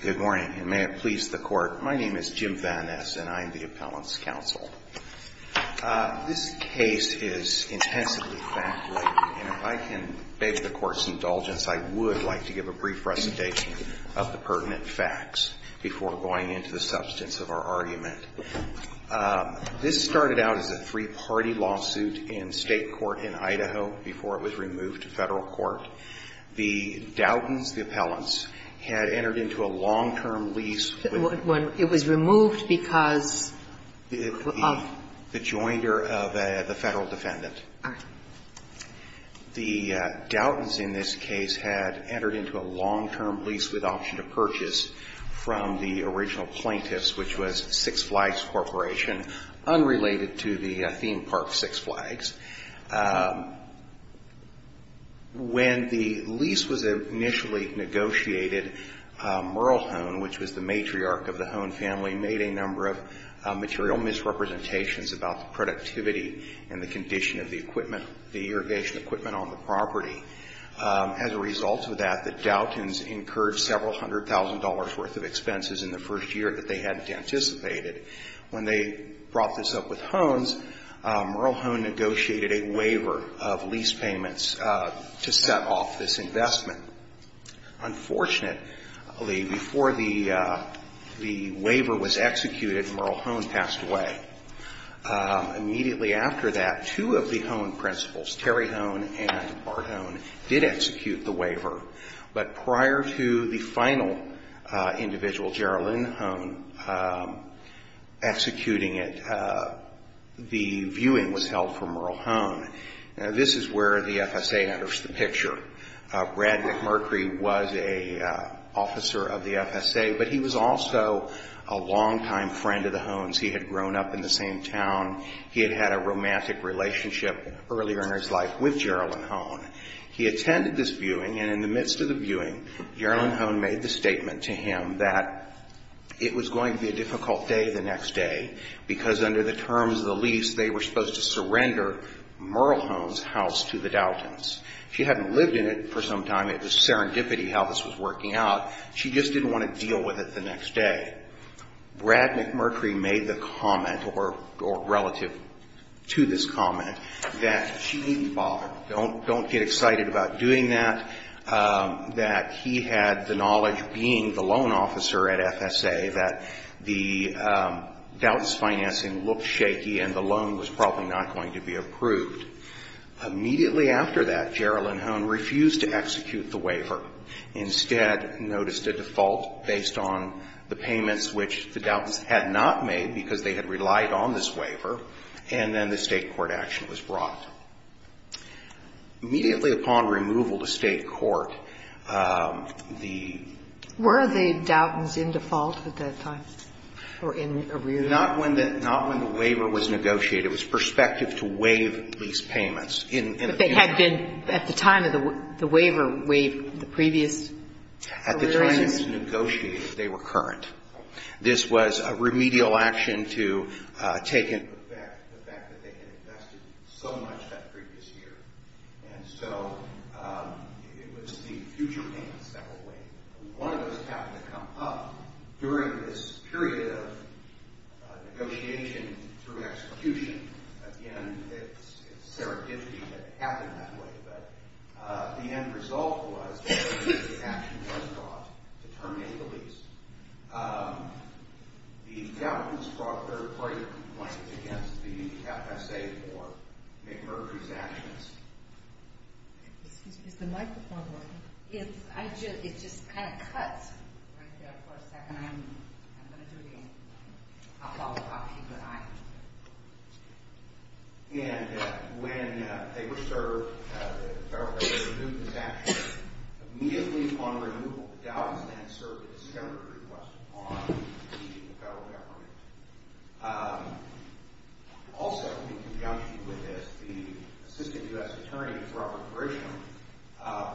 Good morning and may it please the Court. My name is Jim Van Ness and I am the Appellant's Counsel. This case is intensively fact-laden and if I can beg the Court's indulgence, I would like to give a brief recitation of the pertinent facts before going into the substance of our argument. This started out as a three-party lawsuit in state court in Idaho before it was removed to federal court. The Doughtons, the appellants, had entered into a long-term lease with When it was removed because of The joinder of the federal defendant. All right. The Doughtons in this case had entered into a long-term lease with option to purchase from the original plaintiffs, which was Six Flags Corporation, unrelated to the theme park Six Flags. When the lease was initially negotiated, Merle Hone, which was the matriarch of the Hone family, made a number of material misrepresentations about the productivity and the condition of the equipment, the irrigation equipment on the property. As a result of that, the Doughtons incurred several hundred thousand dollars worth of expenses in the first year that they hadn't anticipated. When they brought this up with Hone's, Merle Hone negotiated a waiver of lease payments to set off this investment. Unfortunately, before the waiver was executed, Merle Hone passed away. Immediately after that, two of the Hone principals, Terry Hone and Bart Hone, did execute the waiver. But prior to the final individual, Geraldine Hone, executing it, the viewing was held for Merle Hone. Now, this is where the FSA enters the picture. Brad McMurkry was an officer of the FSA, but he was also a longtime friend of the Hone's. He had grown up in the same town. He had had a romantic relationship earlier in his life with Geraldine Hone. He attended this viewing, and in the midst of the viewing, Geraldine Hone made the statement to him that it was going to be a difficult day the next day, because under the terms of the lease, they were supposed to surrender Merle Hone's house to the Doughtons. She hadn't lived in it for some time. It was serendipity how this was working out. She just didn't want to deal with it the next day. Brad McMurkry made the comment, or relative to this comment, that she didn't bother. Don't get excited about doing that. That he had the knowledge, being the loan officer at FSA, that the Doughtons financing looked shaky, and the loan was probably not going to be approved. Immediately after that, Geraldine Hone refused to execute the waiver. Instead, noticed a default based on the payments which the Doughtons had not made, because they had relied on this waiver, and then the State court action was brought. Immediately upon removal to State court, the ---- Were the Doughtons in default at that time, or in arrear? Not when the waiver was negotiated. It was prospective to waive lease payments. But they had been, at the time of the waiver, waived the previous ---- At the time it was negotiated, they were current. This was a remedial action to take into effect the fact that they had invested so much that previous year, and so it was the future payments that were waived. One of those happened to come up during this period of negotiation through execution. Again, it's serendipity that it happened that way. But the end result was the action was brought to terminate the lease. The Doughtons brought a third party complaint against the FSA for McMurphy's actions. Excuse me, is the microphone working? It just kind of cuts right there for a second. I'm going to do it again. I'll follow up. Keep an eye on it. And when they were served, the federal government renewed this action. Immediately upon removal, the Doughtons then served a discovery request on leaving the federal government. Also, in conjunction with this, the Assistant U.S. Attorney, Robert Grisham,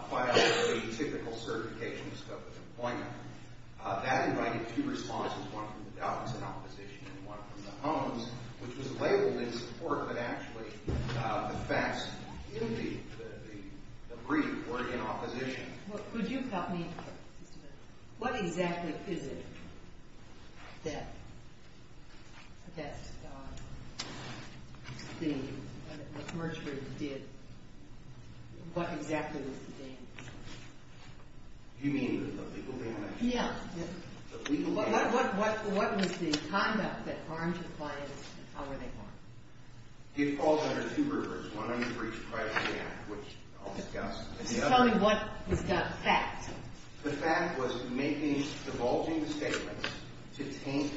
filed a typical certification scope of employment. That invited two responses, one from the Doughtons in opposition and one from the Holmes, which was labeled in support, but actually the facts in the brief were in opposition. Could you help me? What exactly is it that McMurphy did? What exactly was the damage? You mean the legal damage? Yeah. The legal damage? What was the conduct that harmed the client and how were they harmed? It falls under two groups. One of them was breach of privacy act, which I'll discuss. Tell me what was the fact. The fact was making, divulging the statements to taint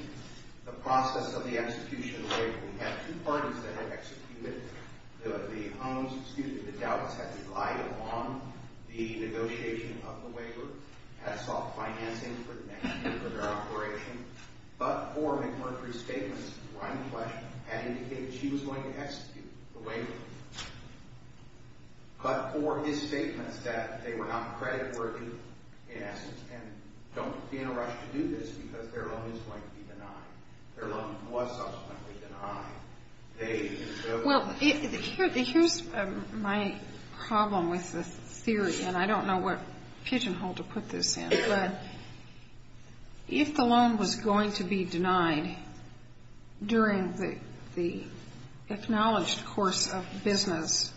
the process of the execution of the waiver. We had two parties that had executed it. The Holmes, excuse me, the Doughtons had relied upon the negotiation of the waiver, had sought financing for the next year for their operation. But for McMurphy's statements, Ryan Fletcher had indicated she was going to execute the waiver. But for his statements that they were not creditworthy, in essence, and don't be in a rush to do this because their loan is going to be denied. Their loan was subsequently denied. Well, here's my problem with the theory, and I don't know what pigeon hole to put this in, but if the loan was going to be denied during the acknowledged course of business,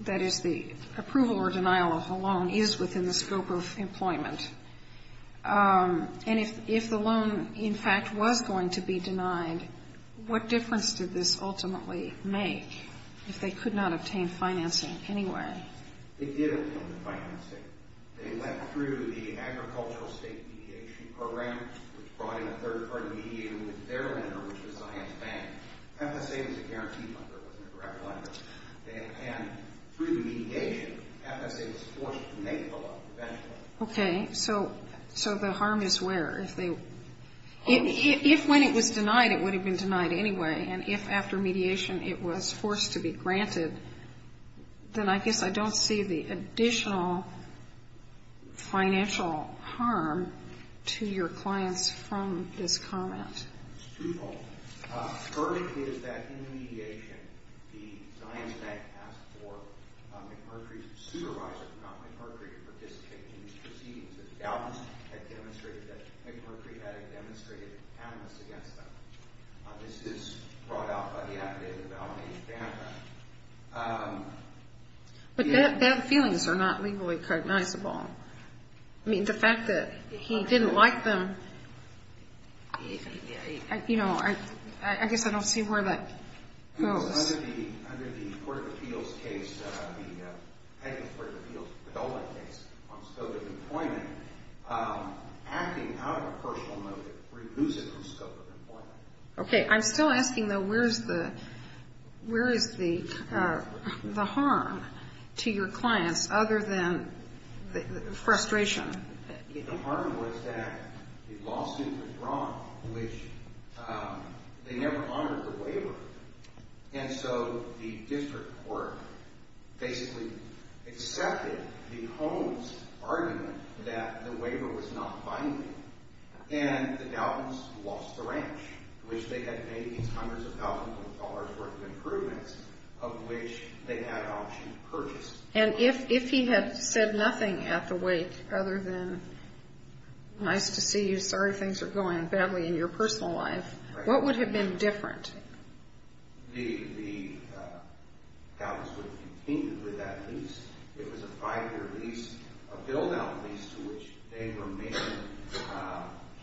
that is, the approval or denial of the loan is within the scope of employment, and if the loan, in fact, was going to be denied, what difference did this ultimately make if they could not obtain financing anyway? They did obtain the financing. They went through the Agricultural State Mediation Program, which brought in a third-party mediator with their lender, which was Science Bank. FSA was a guarantee fund. There wasn't a direct lender. And through the mediation, FSA was forced to make the loan eventually. Okay. So the harm is where? If when it was denied, it would have been denied anyway, and if after mediation it was forced to be granted, then I guess I don't see the additional financial harm to your clients from this comment. It's twofold. First is that in the mediation, the Science Bank asked for McMurtry's supervisor, if not McMurtry, to participate in these proceedings. The doubters had demonstrated that McMurtry had demonstrated animus against them. This is brought out by the affidavit of Alan A. Vanderbilt. But bad feelings are not legally cognizable. I mean, the fact that he didn't like them, you know, I guess I don't see where that goes. Under the Court of Appeals case, the Padola case on scope of employment, acting out of a personal motive removes it from scope of employment. Okay. I'm still asking, though, where is the harm to your clients other than frustration? The harm was that the lawsuit was drawn, which they never honored the waiver. And so the district court basically accepted the Holmes argument that the waiver was not binding, and the doubters lost the ranch, which they had made these hundreds of thousands of dollars worth of improvements, of which they had option to purchase. And if he had said nothing at the wake other than, Nice to see you. Sorry things are going badly in your personal life. What would have been different? The doubters would have continued with that lease. It was a five-year lease, a build-out lease to which they were making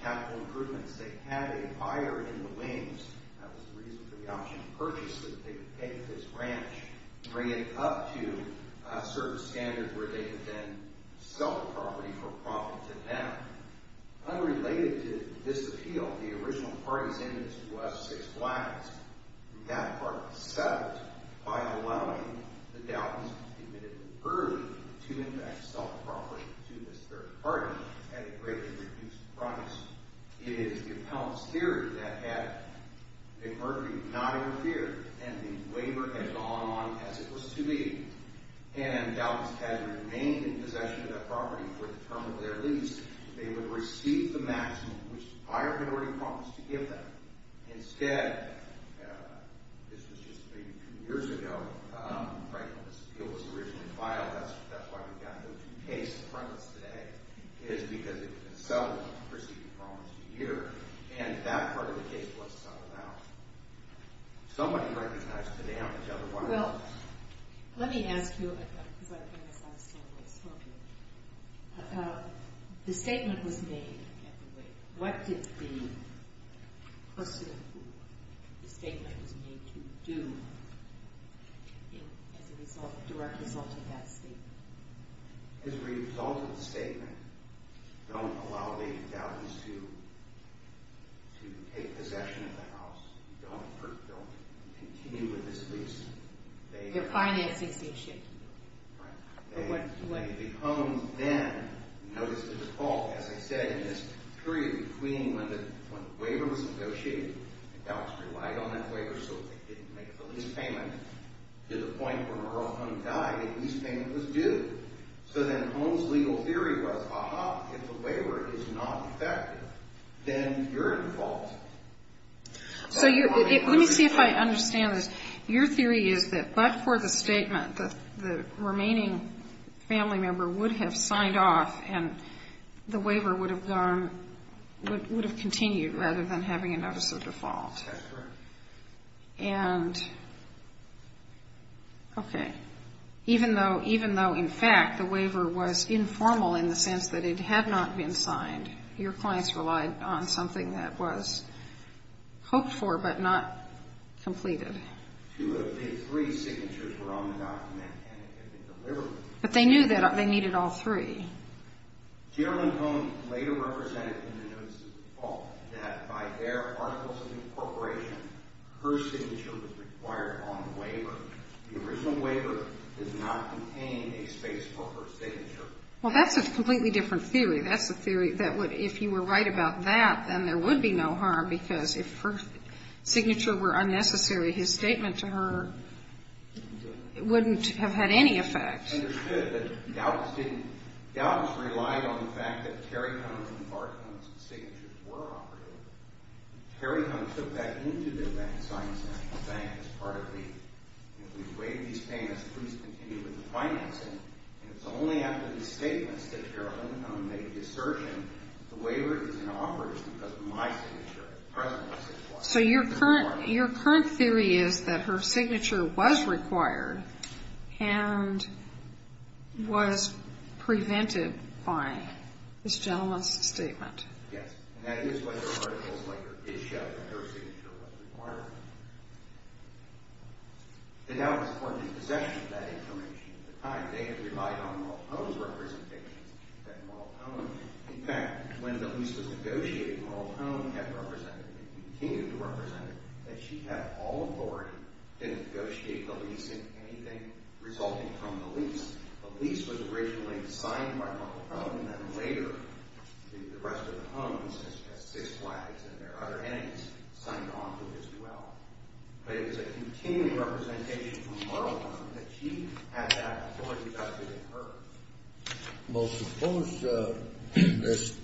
capital improvements. They had a buyer in the wings. That was the reason for the option to purchase, so that they could take this ranch, bring it up to a certain standard, where they could then sell the property for profit to them. Unrelated to this appeal, the original party's interest was six blacks. That party settled by allowing the doubters admitted early to in fact sell the property to this third party at a greatly reduced price. It is the appellant's theory that had McMurphy not interfered, and the waiver had gone on as it was to be, and doubters had remained in possession of that property for the term of their lease, they would receive the maximum which the buyer had already promised to give them. Instead, this was just maybe two years ago, right when this appeal was originally filed, that's why we've got those two cases in front of us today, is because it had been settled, received and promised a year, and that part of the case was settled out. Somebody recognized the damage, otherwise... Well, let me ask you a question, because I think it sounds so misogynistic. The statement was made at the waiver. What did the person who the statement was made to do as a direct result of that statement? As a result of the statement, don't allow the doubters to take possession of the house. Don't continue with this lease. You're financing the issue. Right. The home then, notice the default, as I said, in this period between when the waiver was negotiated, and doubters relied on that waiver so they didn't make the lease payment, to the point where Earl Hunt died, the lease payment was due. So then Holmes' legal theory was, ah-ha, if the waiver is not effective, then you're at fault. So let me see if I understand this. Your theory is that but for the statement, the remaining family member would have signed off, and the waiver would have gone, would have continued, rather than having a notice of default. That's correct. And, okay, even though in fact the waiver was informal in the sense that it had not been signed, your clients relied on something that was hoped for but not completed. Two of the three signatures were on the document, and it had been delivered. But they knew that they needed all three. Geraldine Holmes later represented in the notice of default that by their articles of incorporation, her signature was required on the waiver. The original waiver did not contain a space for her signature. Well, that's a completely different theory. That's a theory that if you were right about that, then there would be no harm, because if her signature were unnecessary, his statement to her wouldn't have had any effect. I understood that doubts didn't, doubts relied on the fact that Terry Holmes and Bart Holmes' signatures were operative. Terry Holmes took that into the Bank of Science National Bank as part of the, if we waive these payments, please continue with the financing. And it's only after these statements that Geraldine Holmes made the assertion, the waiver is inoperative because of my signature. The President said it was. So your current theory is that her signature was required, and was prevented by this gentleman's statement. Yes. And that is why her articles later did show that her signature was required. And that was for the possession of that information at the time. They had relied on Marltone's representations. In fact, when the lease was negotiated, Marltone had represented, and continued to represent, that she had all authority to negotiate the lease and anything resulting from the lease. The lease was originally signed by Marltone, and then later the rest of the Holmes and his six wives and their other enemies signed on to his will. But it was a continuing representation from Marltone that she had that authority, not just within her. Well, suppose this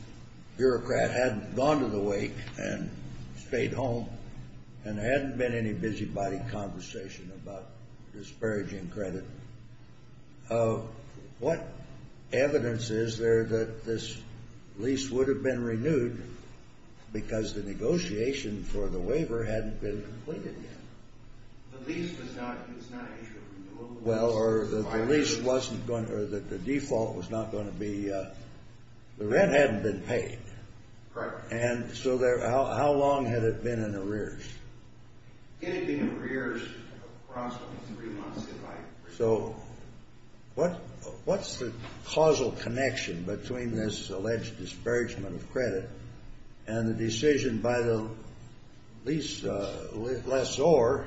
bureaucrat hadn't gone to the wake and stayed home, and there hadn't been any busybody conversation about disparaging credit. What evidence is there that this lease would have been renewed because the negotiation for the waiver hadn't been completed yet? The lease was not issued. Well, or the lease wasn't going to, or the default was not going to be, the rent hadn't been paid. Correct. And so how long had it been in arrears? It had been in arrears approximately three months, if I recall. So what's the causal connection between this alleged disparagement of credit and the decision by the lease lessor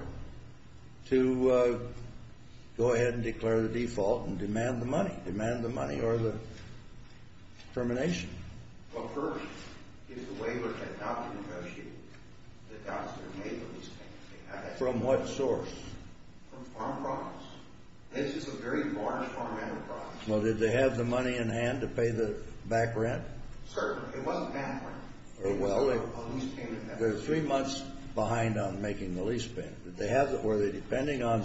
to go ahead and declare the default and demand the money, demand the money or the termination? Well, first, if the waiver had not been negotiated, the doubts would have made those things. From what source? From farm products. This is a very large farm enterprise. Well, did they have the money in hand to pay the back rent? Certainly. It wasn't back rent. It was a lease payment. They were three months behind on making the lease payment. Were they depending on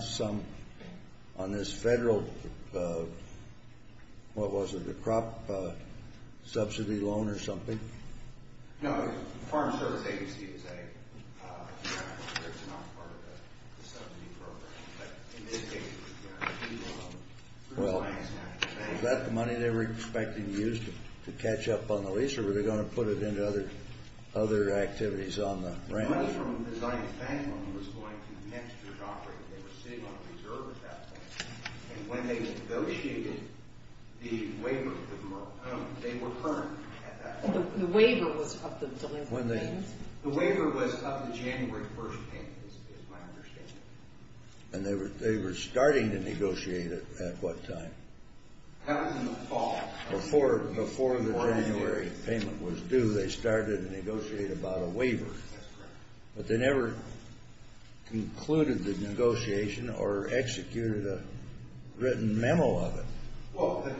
this federal, what was it, the crop subsidy loan or something? No, it was the Farm Service Agency that said, it's not part of the subsidy program. But in this case, it was a loan. Well, is that the money they were expecting to use to catch up on the lease, or were they going to put it into other activities on the rent? It was from the Zions Bank when it was going to next year's operating. They were sitting on reserve at that point. And when they negotiated the waiver, they were firm at that point. The waiver was up to January 1st payment, is my understanding. And they were starting to negotiate it at what time? That was in the fall. Before the January payment was due, they started to negotiate about a waiver. That's correct. But they never concluded the negotiation or executed a written memo of it. Well, the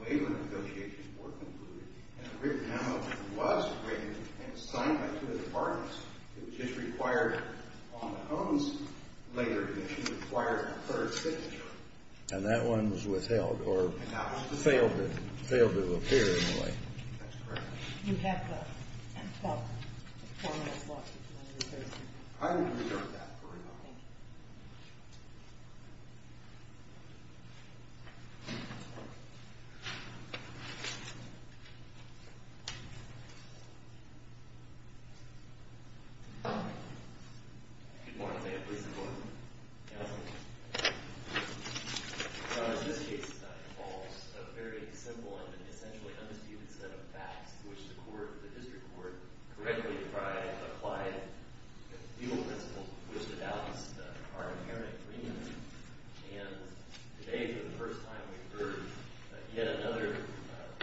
waiver negotiations were concluded, and a written memo was written and signed by two of the departments. It was just required on the OMS later commission required a third signature. And that one was withheld? Withheld or failed to appear in a way. That's correct. You have 12 minutes left. I will reserve that for another time. Thank you. Good morning, ma'am. Please report. Good morning. So in this case, it involves a very simple and essentially undisputed set of facts to which the court, the district court, correctly defied applied legal principles to which the doubts are inherent. And today, for the first time, we've heard yet another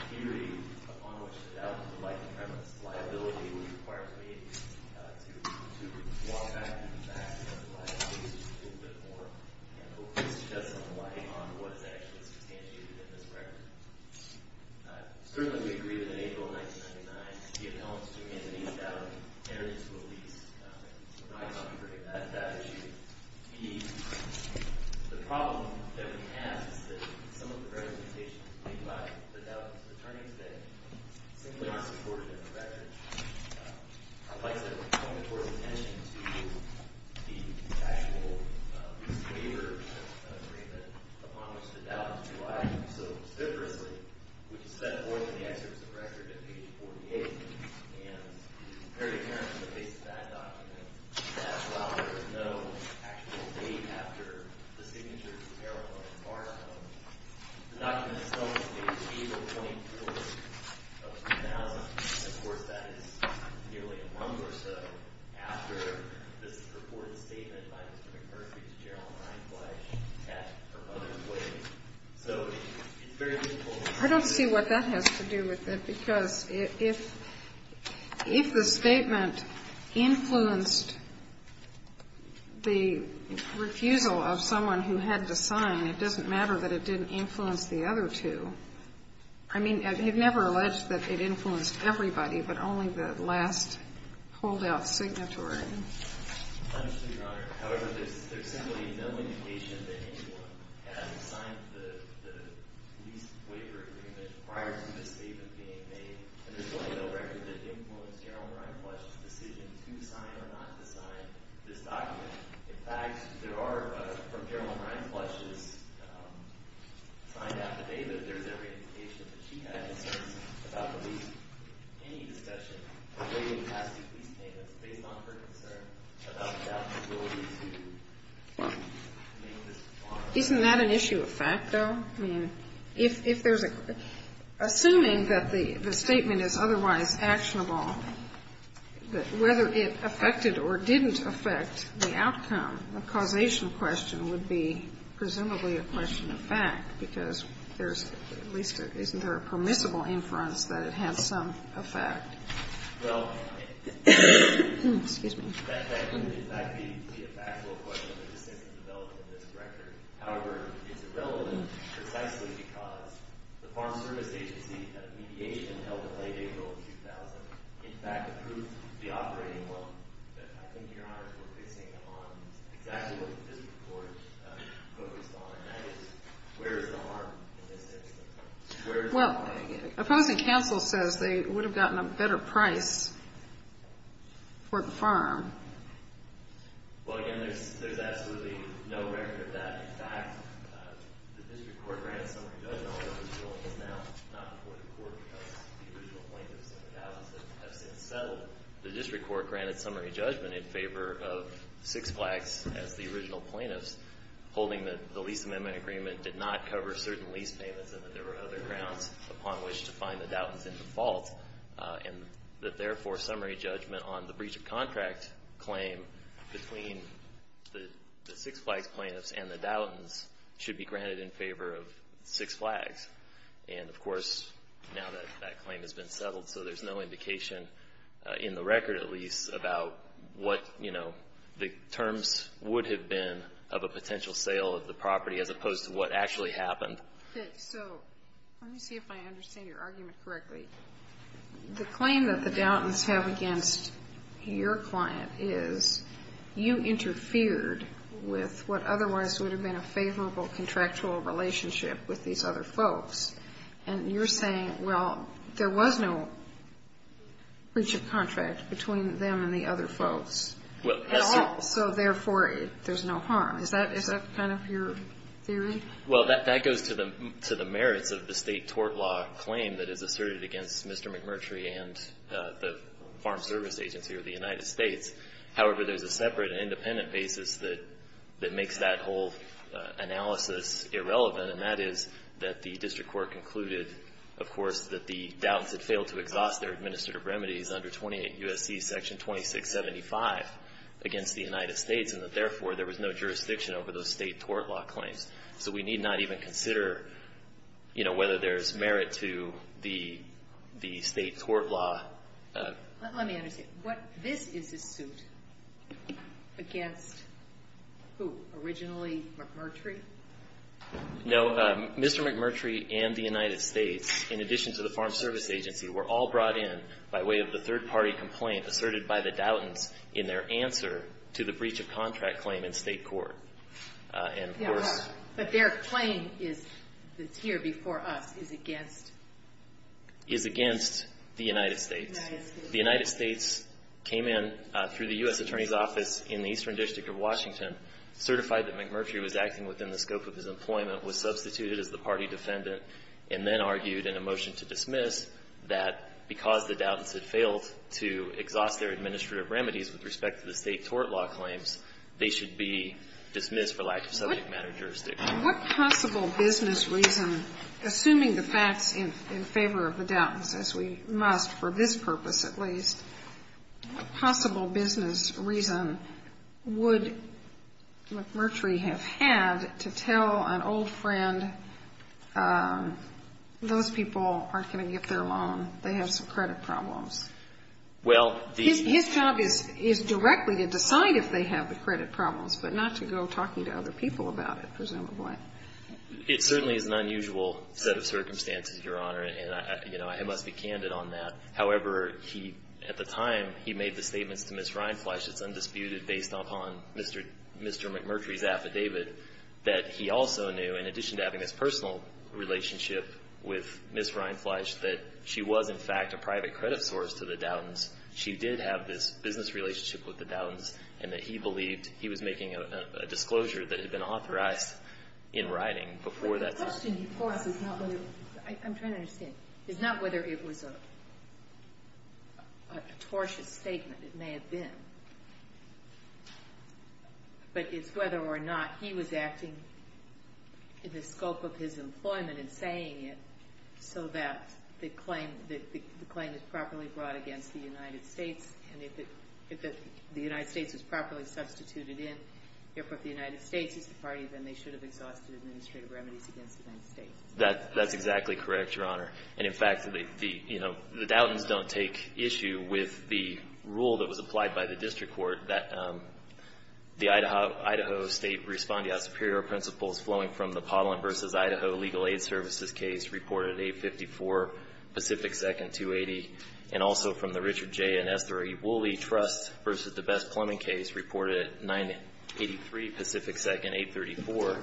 purity upon which the doubts would like to premise. Liability would require to me to walk back to the facts of the liability issue a little bit more and hopefully shed some light on what is actually substantiated in this record. Certainly, we agree that in April of 1999, the appellants to Anthony Dowling entered into a lease. We're not going to forget that issue. The problem that we have is that some of the representations made by the attorneys that simply are not supported in the record are likely to point towards attention to the actual lease waiver agreement upon which the doubt was relied. So specifically, which is set forth in the excerpt of the record at page 48, and is very apparent in the case of that document, that while there is no actual date after the signature, the document itself states April 22nd of 2000. And of course, that is nearly a month or so after this purported statement by Mr. McCarthy to Gerald Reinflash at her mother's wedding. So it's very meaningful. I don't see what that has to do with it, because if the statement influenced the refusal of someone who had to sign, it doesn't matter that it didn't influence the other two. I mean, it never alleged that it influenced everybody, but only the last holdout signatory. I understand, Your Honor. However, there's simply no indication that anyone had signed the lease waiver agreement prior to this statement being made. And there's really no record that it influenced Gerald Reinflash's decision to sign or not to sign this document. In fact, there are, from Gerald Reinflash's signed affidavit, there's every indication that she had concerns about the lease. Isn't that an issue of fact, though? I mean, if there's a – assuming that the statement is otherwise actionable, whether it affected or didn't affect the outcome, the causation question would be presumably a question of fact, because there's – at least isn't there a permissible inference that it has some effect? Well, that would in fact be a factual question of the system developed in this record. However, it's irrelevant precisely because the Farm Service Agency had a mediation held in late April of 2000, in fact approved the operating loan. But I think, Your Honor, we're focusing on exactly what the district court focused on, and that is where is the harm in this system? Well, opposing counsel says they would have gotten a better price for the farm. Well, again, there's absolutely no record of that. In fact, the district court granted summary judgment on it. It's now not before the Court because the original plaintiffs in the thousands have since settled. The district court granted summary judgment in favor of Six Flags as the original plaintiffs, holding that the lease amendment agreement did not cover certain lease payments and that there were other grounds upon which to find the Dowtons in the fault, and that therefore summary judgment on the breach of contract claim between the Six Flags plaintiffs and the Dowtons should be granted in favor of Six Flags. And, of course, now that that claim has been settled, so there's no indication in the record, at least, about what, you know, the terms would have been of a potential sale of the property as opposed to what actually happened. Okay. So let me see if I understand your argument correctly. The claim that the Dowtons have against your client is you interfered with what otherwise would have been a favorable contractual relationship with these other folks, and you're saying, well, there was no breach of contract between them and the other folks at all, so therefore there's no harm. Is that kind of your theory? Well, that goes to the merits of the State tort law claim that is asserted against Mr. McMurtry and the Farm Service Agency of the United States. However, there's a separate and independent basis that makes that whole analysis irrelevant, and that is that the district court concluded, of course, that the Dowtons had failed to exhaust their administrative remedies under 28 U.S.C. section 2675 against the United States and that, therefore, there was no jurisdiction over those State tort law claims. So we need not even consider, you know, whether there's merit to the State tort law. Let me understand. This is a suit against who? Originally McMurtry? No. Mr. McMurtry and the United States, in addition to the Farm Service Agency, were all to the breach of contract claim in State court. And, of course But their claim is, that's here before us, is against? Is against the United States. The United States came in through the U.S. Attorney's Office in the Eastern District of Washington, certified that McMurtry was acting within the scope of his employment, was substituted as the party defendant, and then argued in a motion to dismiss that because the Dowtons had failed to exhaust their administrative remedies with respect to the State tort law claims, they should be dismissed for lack of subject matter jurisdiction. What possible business reason, assuming the facts in favor of the Dowtons, as we must for this purpose, at least, what possible business reason would McMurtry have had to tell an old friend, those people aren't going to get their loan, they have some credit problems? Well, these His job is directly to decide if they have the credit problems, but not to go talking to other people about it, presumably. It certainly is an unusual set of circumstances, Your Honor, and I must be candid on that. However, he, at the time, he made the statements to Ms. Reinflash, it's undisputed based upon Mr. McMurtry's affidavit, that he also knew, in addition to having this personal relationship with Ms. Reinflash, that she was, in fact, a private credit source to the Dowtons. She did have this business relationship with the Dowtons, and that he believed he was making a disclosure that had been authorized in writing before that. But the question, of course, is not whether I'm trying to understand. It's not whether it was a tortious statement, it may have been, but it's whether or not he was acting in the scope of his employment in saying it so that the claim is properly brought against the United States, and if the United States is properly substituted in, therefore, if the United States is the party, then they should have exhausted administrative remedies against the United States. That's exactly correct, Your Honor. And, in fact, the, you know, the Dowtons don't take issue with the rule that was applied by the district court that the Idaho State Respondeat Superior Principles flowing from the Pollen v. Idaho Legal Aid Services case reported at 854 Pacific 2nd, 280, and also from the Richard J. and Esther E. Woolley Trust v. the Best Plumbing Case reported at 983 Pacific 2nd, 834,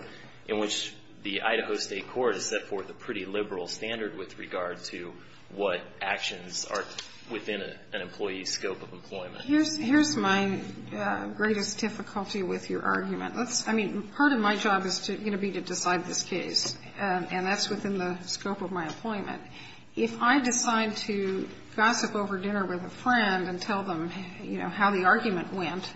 in which the Idaho State court has set forth a pretty liberal standard with regard to what actions are within an employee's scope of employment. Here's my greatest difficulty with your argument. Let's, I mean, part of my job is going to be to decide this case, and that's within the scope of my employment. If I decide to gossip over dinner with a friend and tell them, you know, how the argument went,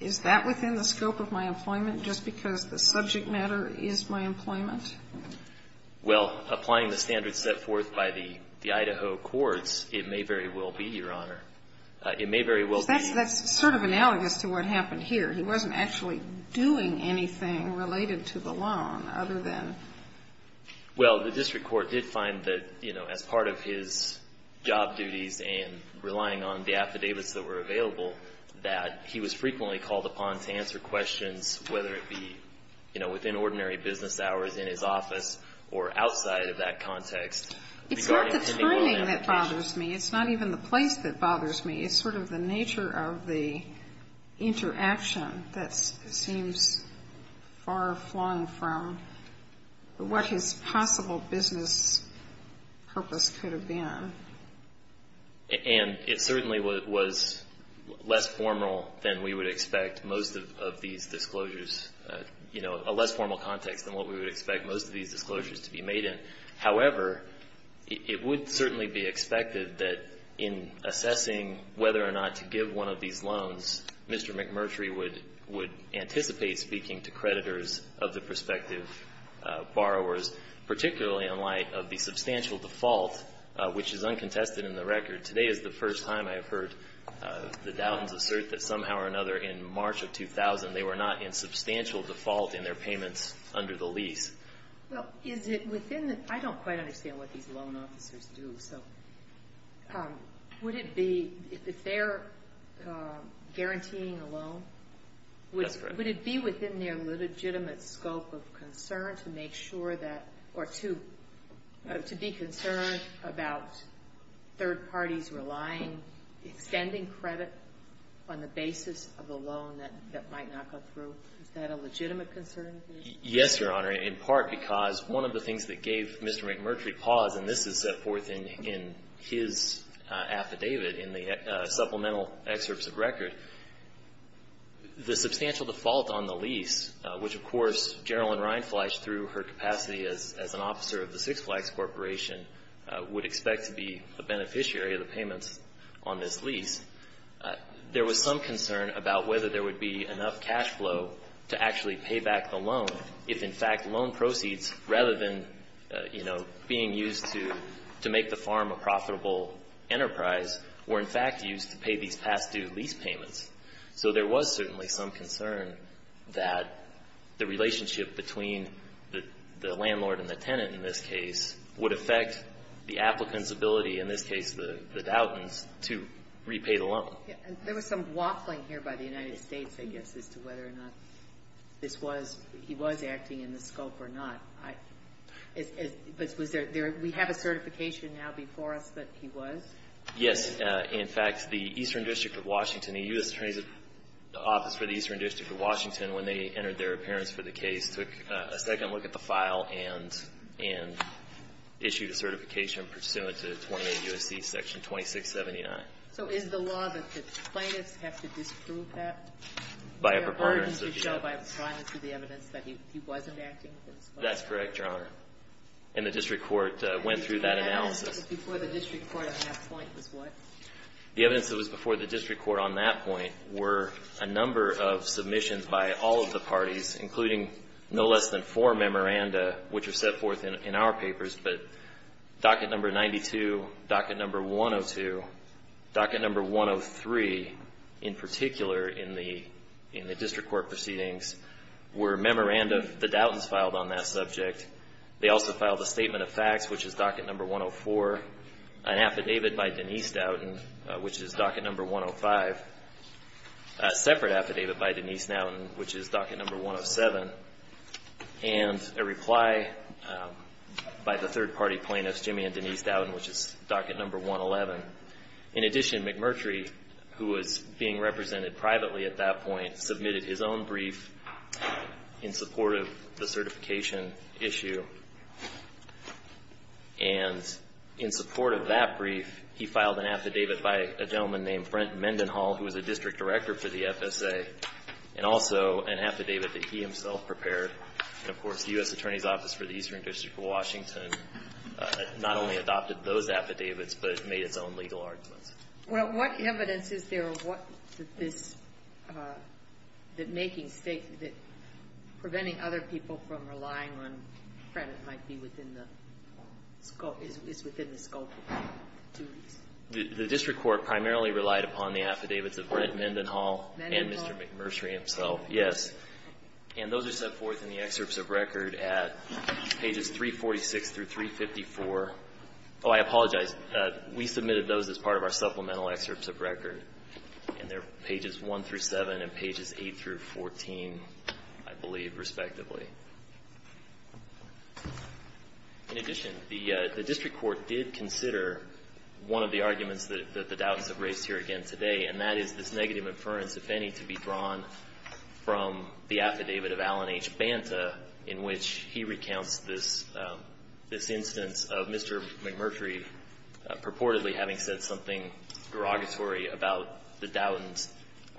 is that within the scope of my employment just because the subject matter is my employment? Well, applying the standards set forth by the Idaho courts, it may very well be, Your Honor. It may very well be. That's sort of analogous to what happened here. He wasn't actually doing anything related to the loan, other than. Well, the district court did find that, you know, as part of his job duties and relying on the affidavits that were available, that he was frequently called upon to answer questions, whether it be, you know, within ordinary business hours in his office or outside of that context. It's not the turning that bothers me. It's not even the place that bothers me. It's sort of the nature of the interaction that seems far flung from what his possible business purpose could have been. And it certainly was less formal than we would expect most of these disclosures, you know, a less formal context than what we would expect most of these disclosures to be made in. However, it would certainly be expected that in assessing whether or not to give one of these loans, Mr. McMurtry would anticipate speaking to creditors of the prospective borrowers, particularly in light of the substantial default, which is uncontested in the record. Today is the first time I have heard the Dowdens assert that somehow or another in March of 2000, they were not in substantial default in their payments under the lease. Well, is it within the – I don't quite understand what these loan officers do. So would it be – if they're guaranteeing a loan, would it be within their legitimate scope of concern to make sure that – or to be concerned about third parties relying, extending credit on the basis of a loan that might not go through? Is that a legitimate concern? Yes, Your Honor, in part because one of the things that gave Mr. McMurtry pause, and this is set forth in his affidavit in the supplemental excerpts of record, the substantial default on the lease, which, of course, Gerilyn Reinfleisch, through her capacity as an officer of the Six Flags Corporation, would expect to be a beneficiary of the payments on this lease, there was some concern about whether there would be enough cash flow to actually pay back the loan if, in fact, loan proceeds, rather than, you know, being used to make the farm a profitable enterprise, were, in fact, used to pay these past-due lease payments. So there was certainly some concern that the relationship between the landlord and the tenant, in this case, would affect the applicant's ability, in this case the Dowton's, to repay the loan. There was some waffling here by the United States, I guess, as to whether or not this was – he was acting in the scope or not. But was there – we have a certification now before us that he was? Yes. In fact, the Eastern District of Washington, the U.S. Attorney's Office for the Eastern District of Washington, when they entered their appearance for the case, took a second look at the file and issued a certification pursuant to 28 U.S.C. section 2679. So is the law that the plaintiffs have to disprove that? By a preponderance of the evidence. By a preponderance of the evidence that he wasn't acting in the scope? That's correct, Your Honor. And the district court went through that analysis. The evidence that was before the district court on that point was what? The evidence that was before the district court on that point were a number of submissions by all of the parties, including no less than four memoranda, which are set forth in our papers. But docket number 92, docket number 102, docket number 103, in particular in the district court proceedings, were memoranda the Dowton's filed on that subject. They also filed a statement of facts, which is docket number 104, an affidavit by Denise Dowton, which is docket number 105, a separate affidavit by Denise Dowton, which is docket number 107, and a reply by the third-party plaintiffs, Jimmy and Denise Dowton, which is docket number 111. In addition, McMurtry, who was being represented privately at that point, submitted his own brief in support of the certification issue. And in support of that brief, he filed an affidavit by a gentleman named Frent Mendenhall, who was a district director for the FSA, and also an affidavit that he himself prepared. And, of course, the U.S. Attorney's Office for the Eastern District of Washington not only adopted those affidavits but made its own legal arguments. Well, what evidence is there of what this – that making state – that preventing other people from relying on credit might be within the scope – is within the scope of the duties? The district court primarily relied upon the affidavits of Frent Mendenhall and Mr. McMurtry himself, yes. And those are set forth in the excerpts of record at pages 346 through 354. Oh, I apologize. We submitted those as part of our supplemental excerpts of record. And they're pages 1 through 7 and pages 8 through 14, I believe, respectively. In addition, the district court did consider one of the arguments that the doubtants have raised here again today, and that is this negative inference, if any, to be drawn from the affidavit of Alan H. Banta, in which he recounts this instance of Mr. McMurtry purportedly having said something derogatory about the doubtants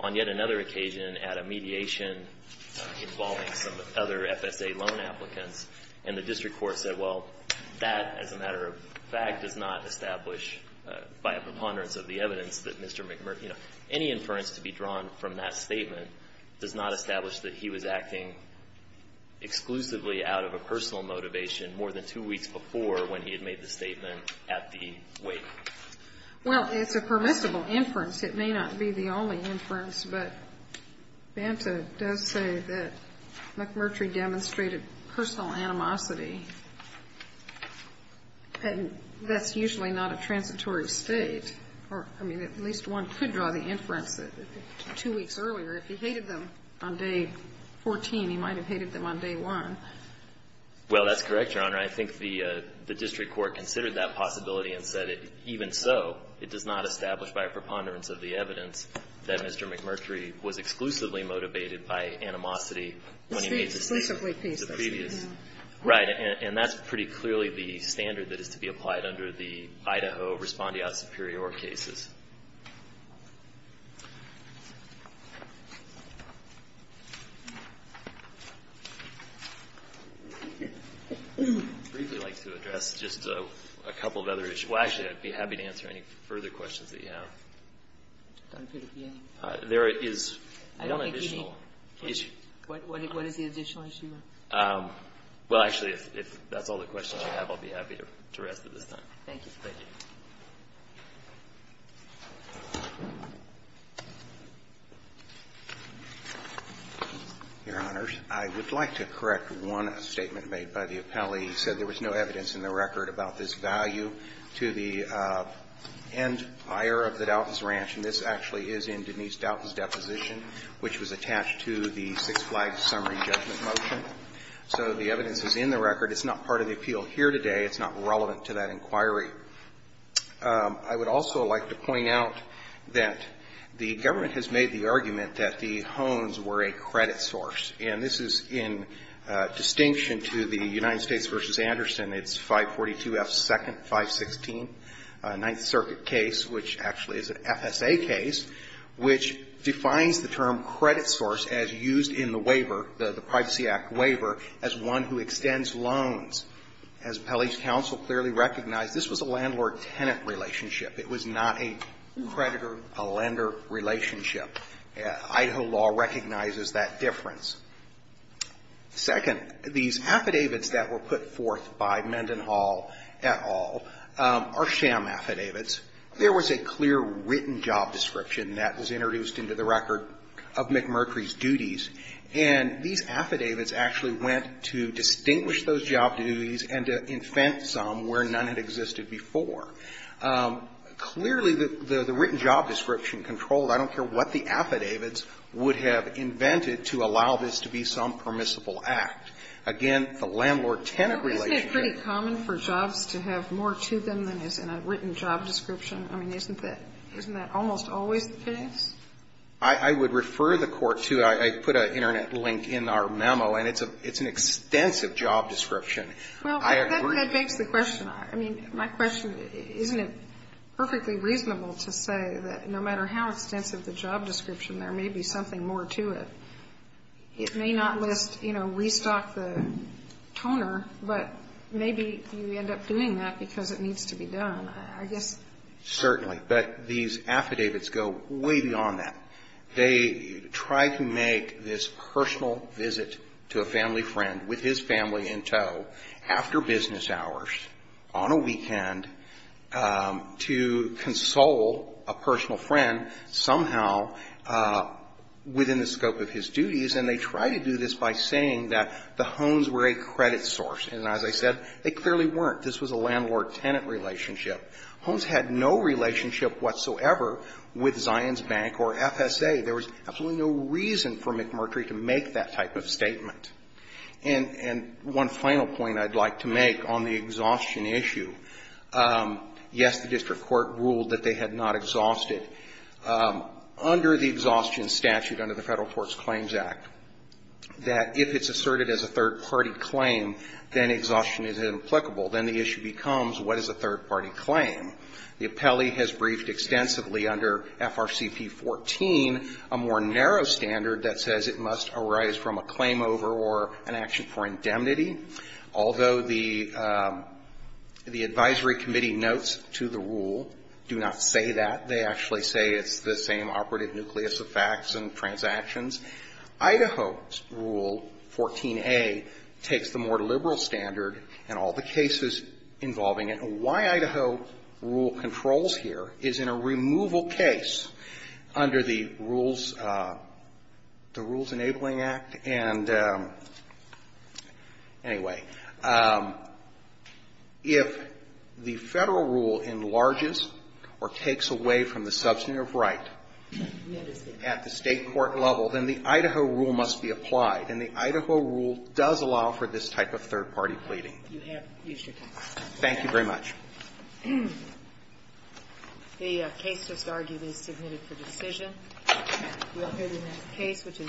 on yet another occasion at a mediation involving some other FSA loan applicants. And the district court said, well, that as a matter of fact does not establish by a preponderance of the evidence that Mr. McMurtry – exclusively out of a personal motivation more than two weeks before when he had made the statement at the weight. Well, it's a permissible inference. It may not be the only inference, but Banta does say that McMurtry demonstrated personal animosity. And that's usually not a transitory state. Or, I mean, at least one could draw the inference that two weeks earlier, if he hated them on day 14, he might have hated them on day one. Well, that's correct, Your Honor. I think the district court considered that possibility and said, even so, it does not establish by a preponderance of the evidence that Mr. McMurtry was exclusively motivated by animosity when he made the statement. The previous. Right. And that's pretty clearly the standard that is to be applied under the Idaho respondeat superior cases. I'd briefly like to address just a couple of other issues. Well, actually, I'd be happy to answer any further questions that you have. There is one additional issue. I don't think you need it. What is the additional issue? Well, actually, if that's all the questions you have, I'd be happy to rest at this time. Thank you. Thank you. Your Honors, I would like to correct one statement made by the appellee. He said there was no evidence in the record about this value to the end buyer of the Douthis Ranch, and this actually is in Denise Douthis's deposition, which was attached to the Six Flags summary judgment motion. So the evidence is in the record. It's not part of the appeal here today. It's not relevant to that inquiry. I would also like to point out that the government has made the argument that the Hones were a credit source, and this is in distinction to the United States v. Anderson. It's 542 F. 2nd, 516, a Ninth Circuit case, which actually is an FSA case, which defines the term credit source as used in the waiver, the Privacy Act waiver, as one who extends loans. As appellee's counsel clearly recognized, this was a landlord-tenant relationship. It was not a creditor-lender relationship. Idaho law recognizes that difference. Second, these affidavits that were put forth by Mendenhall et al. are sham affidavits. There was a clear written job description that was introduced into the record of McMurtry's to distinguish those job duties and to invent some where none had existed before. Clearly, the written job description controlled, I don't care what the affidavits, would have invented to allow this to be some permissible act. Again, the landlord-tenant relationship was a sham affidavit. Isn't it pretty common for jobs to have more to them than is in a written job description? I mean, isn't that almost always the case? I would refer the Court to, I put an Internet link in our memo, and it's an extensive job description. I agree. Well, that begs the question. I mean, my question, isn't it perfectly reasonable to say that no matter how extensive the job description, there may be something more to it? It may not list, you know, restock the toner, but maybe you end up doing that because it needs to be done. I guess. Certainly. But these affidavits go way beyond that. They try to make this personal visit to a family friend, with his family in tow, after business hours, on a weekend, to console a personal friend somehow within the scope of his duties, and they try to do this by saying that the Hones were a credit source. And as I said, they clearly weren't. This was a landlord-tenant relationship. Hones had no relationship whatsoever with Zions Bank or FSA. There was absolutely no reason for McMurtry to make that type of statement. And one final point I'd like to make on the exhaustion issue. Yes, the district court ruled that they had not exhausted. Under the exhaustion statute under the Federal Torts Claims Act, that if it's asserted as a third-party claim, then exhaustion is implicable. Then the issue becomes, what is a third-party claim? The appellee has briefed extensively under FRCP 14 a more narrow standard that says it must arise from a claim over or an action for indemnity. Although the advisory committee notes to the rule, do not say that. They actually say it's the same operative nucleus of facts and transactions. Idaho's Rule 14a takes the more liberal standard and all the cases involving it. Why Idaho rule controls here is in a removal case under the Rules Enabling Act. And anyway, if the Federal rule enlarges or takes away from the substantive right at the state court level, then the Idaho rule must be applied. And the Idaho rule does allow for this type of third-party pleading. Thank you very much. The case has arguably submitted for decision. We'll hear the next case, which is